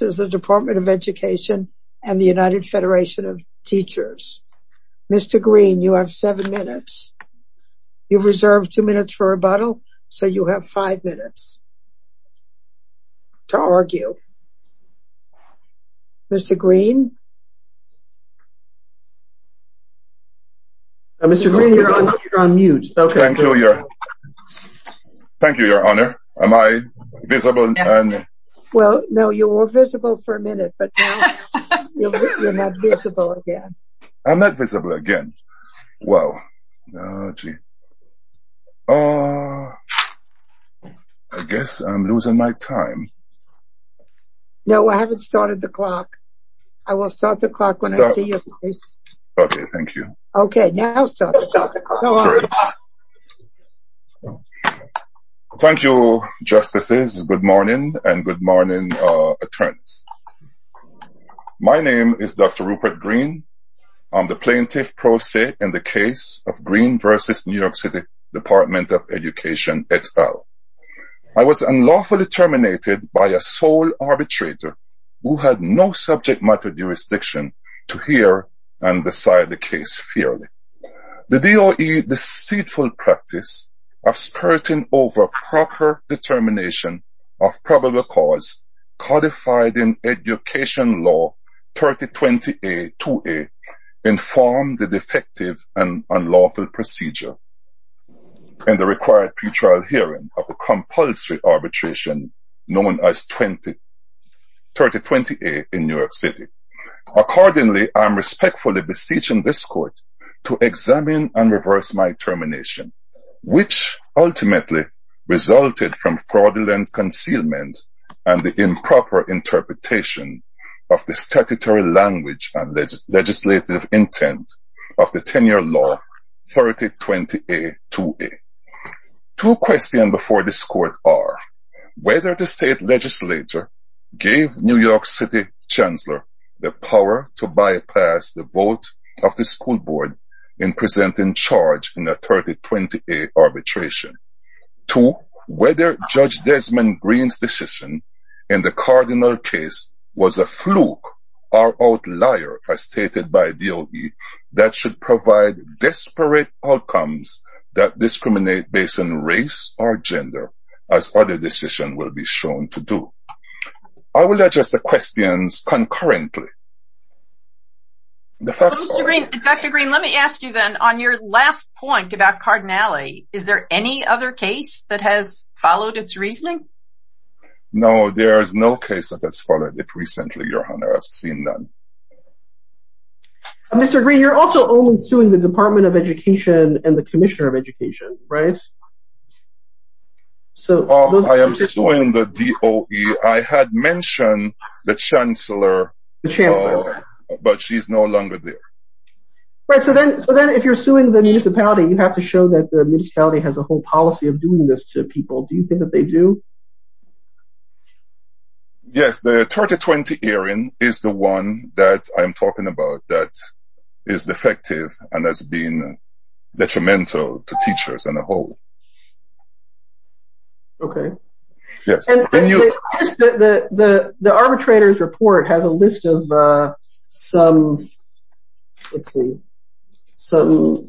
and the United Federation of Teachers. Mr. Green, you have seven minutes. You've reserved two minutes for rebuttal, so you have five minutes to argue. Mr. Green? Mr. Green, you're on mute. Thank you, Your Honor. Am I visible? Well, no, you were visible for a minute, but now you're not visible again. I'm not visible again? Wow. I guess I'm losing my time. No, I haven't started the clock. I will start the clock when I see you, please. Okay, thank you. Okay, now start the clock. Great. Thank you, Justices. Good morning, and good morning, Attorneys. My name is Dr. Rupert Green. I'm the Plaintiff Pro Se in the case of Green v. New York City Department of Education et al. I was unlawfully terminated by a sole arbitrator who had no subject matter jurisdiction to hear and decide the case fairly. The DOE deceitful practice of spurting over proper determination of probable cause codified in Education Law 3020a-2a informed the defective and unlawful procedure and the required pre-trial hearing of the compulsory arbitration known as 3020a in New York City. Accordingly, I am respectfully beseeching this Court to examine and reverse my termination, which ultimately resulted from fraudulent concealment and the improper interpretation of the statutory language and legislative intent of the Tenure Law 3020a-2a. Two questions before this Court are whether the State Legislature gave New York City Chancellor the power to bypass the vote of the School Board in presenting charge in the 3020a arbitration. Two, whether Judge Desmond Green's decision in the Cardinal case was a fluke or outlier as stated by DOE that should provide desperate outcomes that discriminate based on race or gender as other decisions will be shown to do. I will address the questions concurrently. Dr. Green, let me ask you then, on your last point about Cardinality, is there any other case that has followed its reasoning? No, there is no case that has followed it recently, Your Honor. I've seen none. Mr. Green, you're also only suing the Department of Education and the Commissioner of Education, right? I am suing the DOE. I had mentioned the Chancellor, but she's no longer there. Right, so then if you're suing the municipality, you have to show that the municipality has a whole policy of doing this to people. Do you think that they do? Yes, the 3020 hearing is the one that I am talking about that is defective and has been detrimental to teachers as a whole. Okay. Yes. The arbitrator's report has a list of some, let's see, some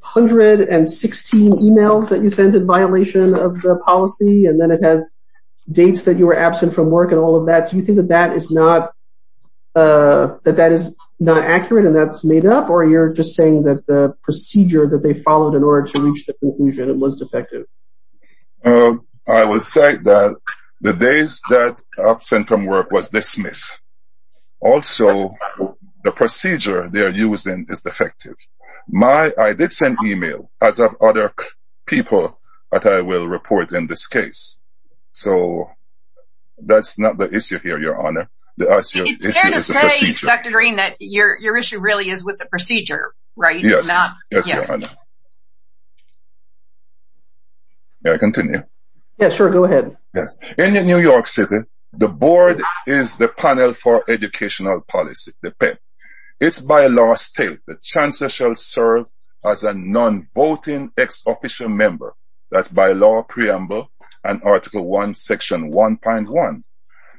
116 emails that you sent in violation of the policy and then it has dates that you were absent from work and all of that. Do you think that that is not accurate and that's made up or you're just saying that the policy was followed in order to reach the conclusion it was defective? I would say that the days that I was absent from work was dismissed. Also, the procedure they are using is defective. I did send email as of other people that I will report in this case, so that's not the issue here, Your Honor. It's fair to say, Dr. Green, that your issue really is with the procedure, right? Yes, Your Honor. May I continue? Yes, sure, go ahead. In New York City, the board is the panel for educational policy, the PEP. It's by law state that Chancellor shall serve as a non-voting ex-official member, that's by law preamble and Article 1, Section 1.1.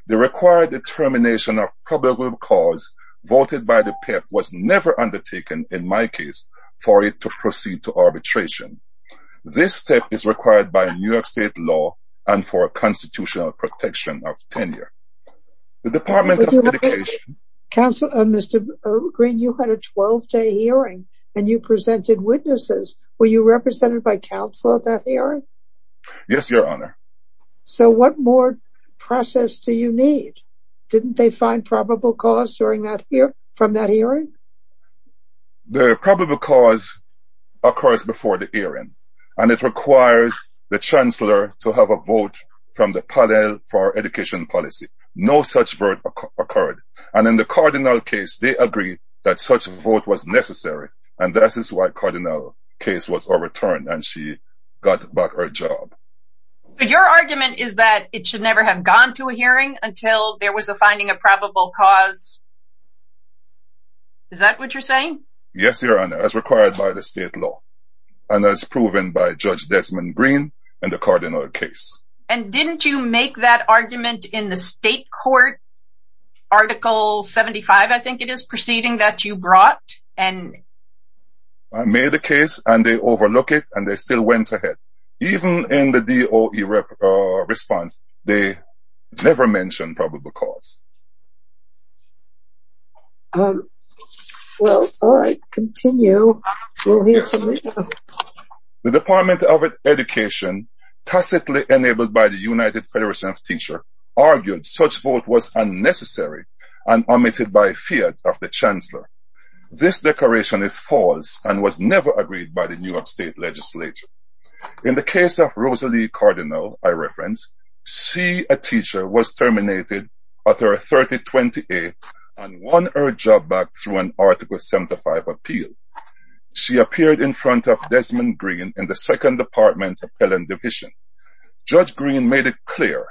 The required determination of probable cause voted by the PEP was never undertaken, in my case, for it to proceed to arbitration. This step is required by New York State law and for constitutional protection of tenure. The Department of Education... Mr. Green, you had a 12-day hearing and you presented witnesses. Were you represented by counsel at that hearing? Yes, Your Honor. So what more process do you need? Didn't they find probable cause from that hearing? The probable cause occurs before the hearing and it requires the Chancellor to have a vote from the panel for education policy. No such vote occurred. And in the Cardinal case, they agreed that such a vote was necessary, and that is why the Cardinal case was overturned and she got back her job. Your argument is that it should never have gone to a hearing until there was a finding of probable cause? Is that what you're saying? Yes, Your Honor, as required by the state law and as proven by Judge Desmond Green in the Cardinal case. And didn't you make that argument in the state court Article 75, I think it is, proceeding that you brought? I made the case and they overlooked it and they still went ahead. Even in the DOE response, they never mentioned probable cause. Well, all right, continue. The Department of Education, tacitly enabled by the United Federation of Teachers, argued such vote was unnecessary and omitted by fear of the Chancellor. This declaration is false and was never agreed by the New York State Legislature. In the case of Rosalie Cardinal, I reference, she, a teacher, was terminated at her 3028 and won her job back through an Article 75 appeal. She appeared in front of Desmond Green in the 2nd Department Appellant Division. Judge Green made it clear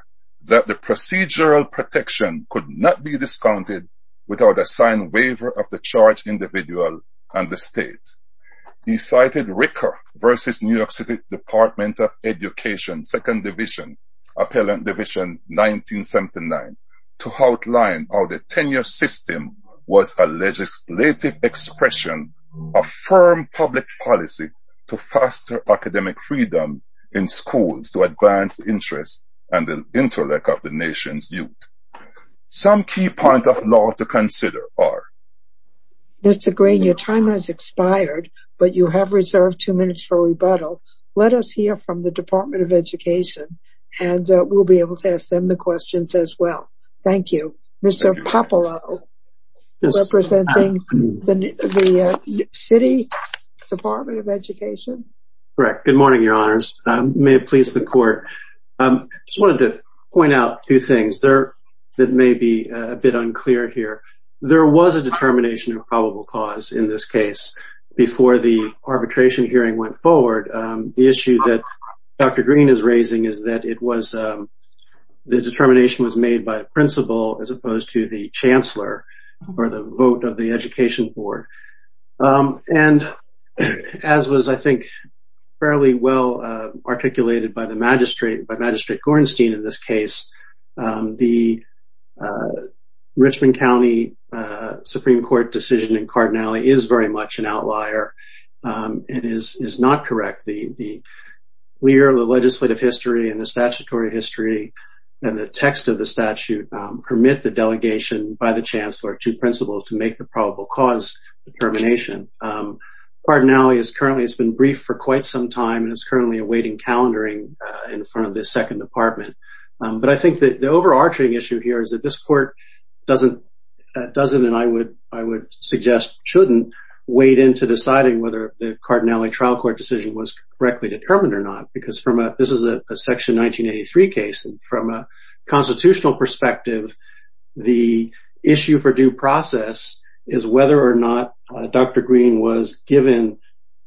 that the procedural protection could not be discounted without a signed waiver of the charged individual and the state. He cited Ricker v. New York State Department of Education, 2nd Division, Appellant Division, 1979, to outline how the tenure system was a legislative expression of firm public policy to foster academic freedom in schools to advance interests and the intellect of the nation's youth. Some key points of law to consider are Mr. Green, your time has expired, but you have reserved 2 minutes for rebuttal. Let us hear from the Department of Education and we'll be able to ask them the questions as well. Thank you. Mr. Popolo, representing the City Department of Education. Correct. Good morning, Your Honors. May it please the Court. I just wanted to point out two things that may be a bit unclear here. There was a determination of probable cause in this case before the arbitration hearing went forward. The issue that Dr. Green is raising is that the determination was made by the principal as opposed to the chancellor or the vote of the Education Board. And as was, I think, fairly well articulated by Magistrate Gorenstein in this case, the Richmond County Supreme Court decision in Cardinale is very much an outlier and is not correct. The legislative history and the statutory history and the text of the statute permit the delegation by the chancellor to principal to make the probable cause determination. Cardinale has been briefed for quite some time and is currently awaiting calendaring in front of the Second Department. But I think that the overarching issue here is that this Court doesn't, and I would suggest shouldn't, wait into deciding whether the Cardinale trial court decision was correctly determined or not. Because this is a Section 1983 case, and from a constitutional perspective, the issue for due process is whether or not Dr. Green was given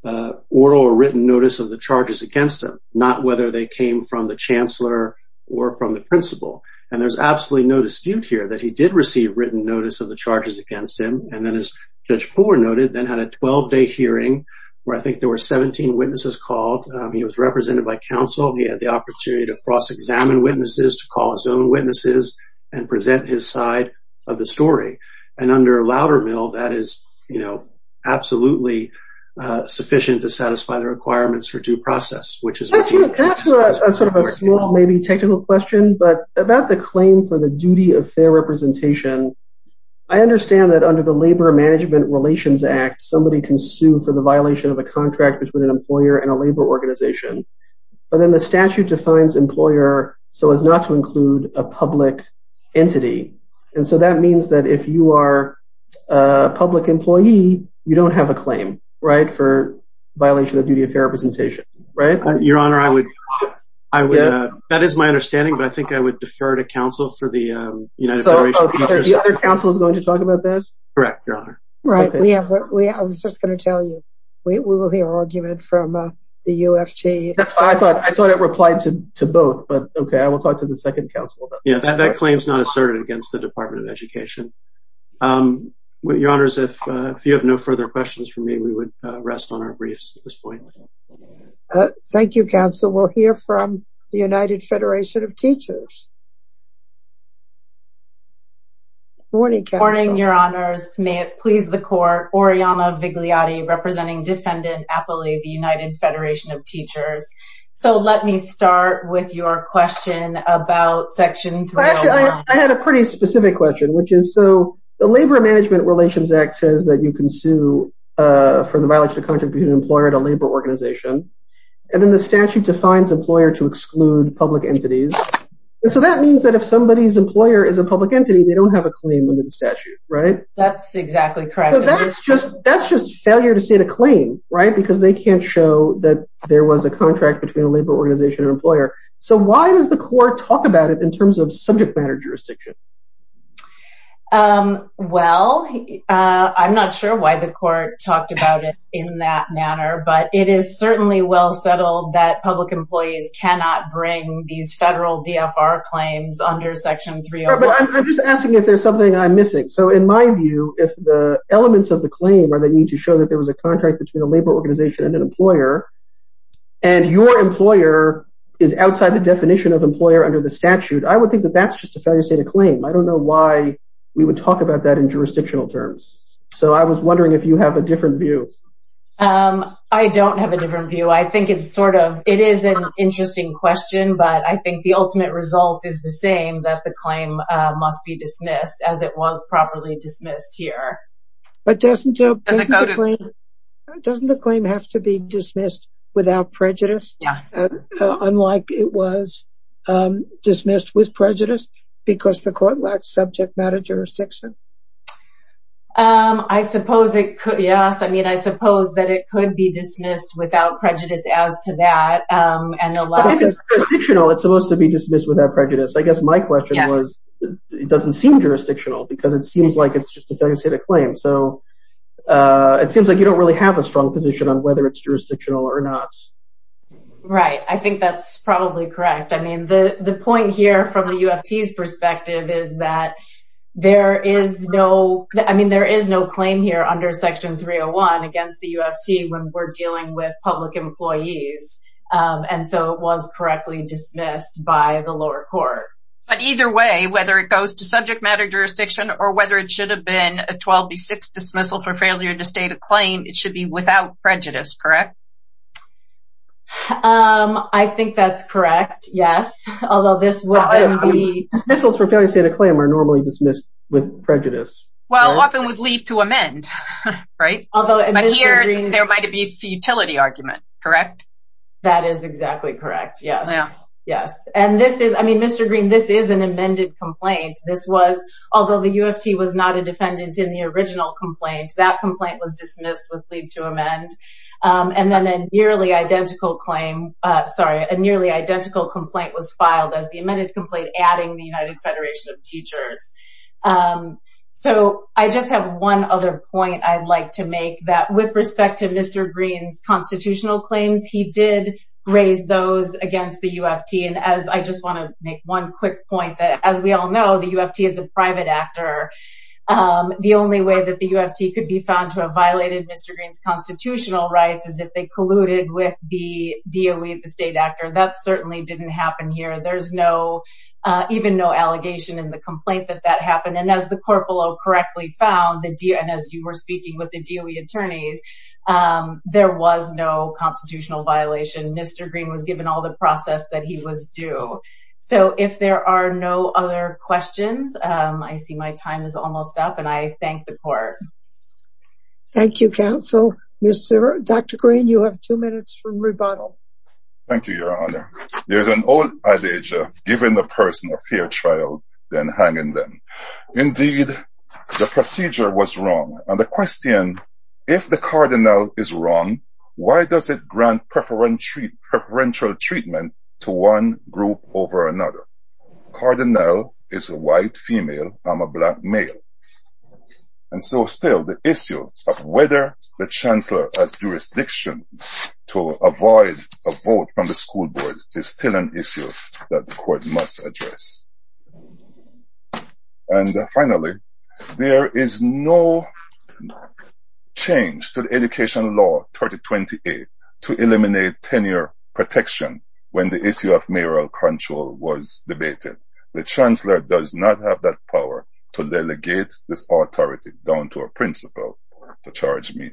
oral or written notice of the charges against him, not whether they came from the chancellor or from the principal. And there's absolutely no dispute here that he did receive written notice of the charges against him and then, as Judge Poore noted, then had a 12-day hearing where I think there were 17 witnesses called. He was represented by counsel. He had the opportunity to cross-examine witnesses, to call his own witnesses and present his side of the story. And under Loudermill, that is, you know, absolutely sufficient to satisfy the requirements for due process, which is what you... Can I ask a sort of a small, maybe technical question? About the claim for the duty of fair representation, I understand that under the Labor Management Relations Act, somebody can sue for the violation of a contract between an employer and a labor organization. But then the statute defines employer so as not to include a public entity. And so that means that if you are a public employee, you don't have a claim, right, for violation of duty of fair representation, right? Your Honor, I would... That is my understanding, but I think I would defer to counsel for the United Federation of Teachers. The other counsel is going to talk about this? Correct, Your Honor. I was just going to tell you, we will hear argument from the UFG. That's fine. I thought it replied to both, but okay, I will talk to the second counsel. Yeah, that claim is not asserted against the Department of Education. Your Honors, if you have no further questions for me, we would rest on our briefs at this point. Thank you, counsel. We'll hear from the United Federation of Teachers. Good morning, counsel. Good morning, Your Honors. May it please the Court, Oriana Vigliotti, representing Defendant Appley, the United Federation of Teachers. So let me start with your question about Section 301. I had a pretty specific question, which is, so the Labor Management Relations Act says that you can sue for the violation of contract between an employer and a labor organization, and then the statute defines employer to exclude public entities, and so that means that if somebody's employer is a public entity, they don't have a claim under the statute, right? That's exactly correct. So that's just failure to state a claim, right, because they can't show that there was a contract between a labor organization and an employer. So why does the Court talk about it in terms of subject matter jurisdiction? Well, I'm not sure why the Court talked about it in that manner, but it is certainly well settled that public employees cannot bring these federal DFR claims under Section 301. Right, but I'm just asking if there's something I'm missing. So in my view, if the elements of the claim are that you need to show that there was a contract between a labor organization and an employer, and your employer is outside the definition of employer under the statute, I would think that that's just a failure to state a claim. I don't know why we would talk about that in jurisdictional terms. So I was wondering if you have a different view. I don't have a different view. I think it's sort of, it is an interesting question, but I think the ultimate result is the same, that the claim must be dismissed, as it was properly dismissed here. But doesn't the claim have to be dismissed without prejudice, unlike it was dismissed with prejudice because the Court lacks subject matter jurisdiction? I suppose it could, yes. I mean, I suppose that it could be dismissed without prejudice as to that. It's supposed to be dismissed without prejudice. I guess my question was it doesn't seem jurisdictional because it seems like it's just a failure to state a claim. So it seems like you don't really have a strong position on whether it's jurisdictional or not. Right. I think that's probably correct. I mean, the point here from the UFT's perspective is that there is no claim here under Section 301 against the UFT when we're dealing with public employees. And so it was correctly dismissed by the lower court. But either way, whether it goes to subject matter jurisdiction or whether it should have been a 12B6 dismissal for failure to state a claim, it should be without prejudice, correct? I think that's correct, yes. Although this wouldn't be... Dismissals for failure to state a claim are normally dismissed with prejudice. Well, often we'd leave to amend, right? But here, there might be a futility argument, correct? That is exactly correct, yes. And this is, I mean, Mr. Green, this is an amended complaint. This was, although the UFT was not a defendant in the original complaint, that complaint was dismissed with leave to amend. And then a nearly identical claim, sorry, a nearly identical complaint was filed as the amended complaint adding the United Federation of Teachers. So I just have one other point I'd like to make that with respect to Mr. Green's constitutional claims, he did raise those against the UFT. And I just want to make one quick point that, as we all know, the UFT is a private actor. The only way that the UFT could be found to have violated Mr. Green's constitutional rights is if they colluded with the DOE, the state actor. That certainly didn't happen here. There's no, even no allegation in the complaint that that happened. And as the corporal correctly found, and as you were speaking with the DOE attorneys, there was no constitutional violation. Mr. Green was given all the process that he was due. So if there are no other questions, I see my time is almost up, and I thank the court. Thank you, counsel. Dr. Green, you have two minutes for rebuttal. Thank you, Your Honor. There's an old adage of giving a person a fair trial, then hanging them. Indeed, the procedure was wrong. And the question, if the cardinal is wrong, why does it grant preferential treatment to one group over another? Cardinal is a white female, I'm a black male. And so still, the issue of whether the chancellor has jurisdiction to avoid a vote from the school board is still an issue that the court must address. And finally, there is no change to the Education Law 3028 to eliminate tenure protection when the issue of mayoral control was debated. The chancellor does not have that power to delegate this authority down to a principal to charge me.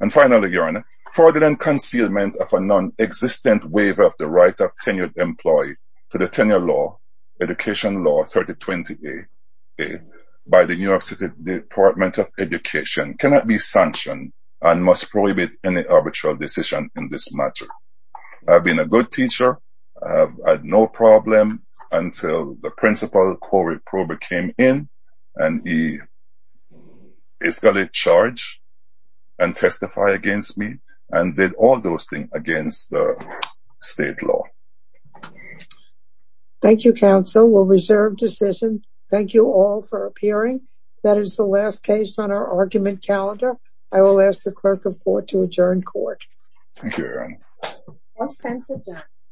And finally, Your Honor, fraudulent concealment of a non-existent waiver of the right of a tenured employee to the tenure law, Education Law 3028, by the New York City Department of Education cannot be sanctioned and must prohibit any arbitral decision in this matter. I've been a good teacher. I've had no problem until the principal, Corey Prober, came in and he's got a charge and testified against me and did all those things against the state law. Thank you, counsel. We'll reserve decision. Thank you all for appearing. That is the last case on our argument calendar. I will ask the clerk of court to adjourn court. Thank you, Your Honor.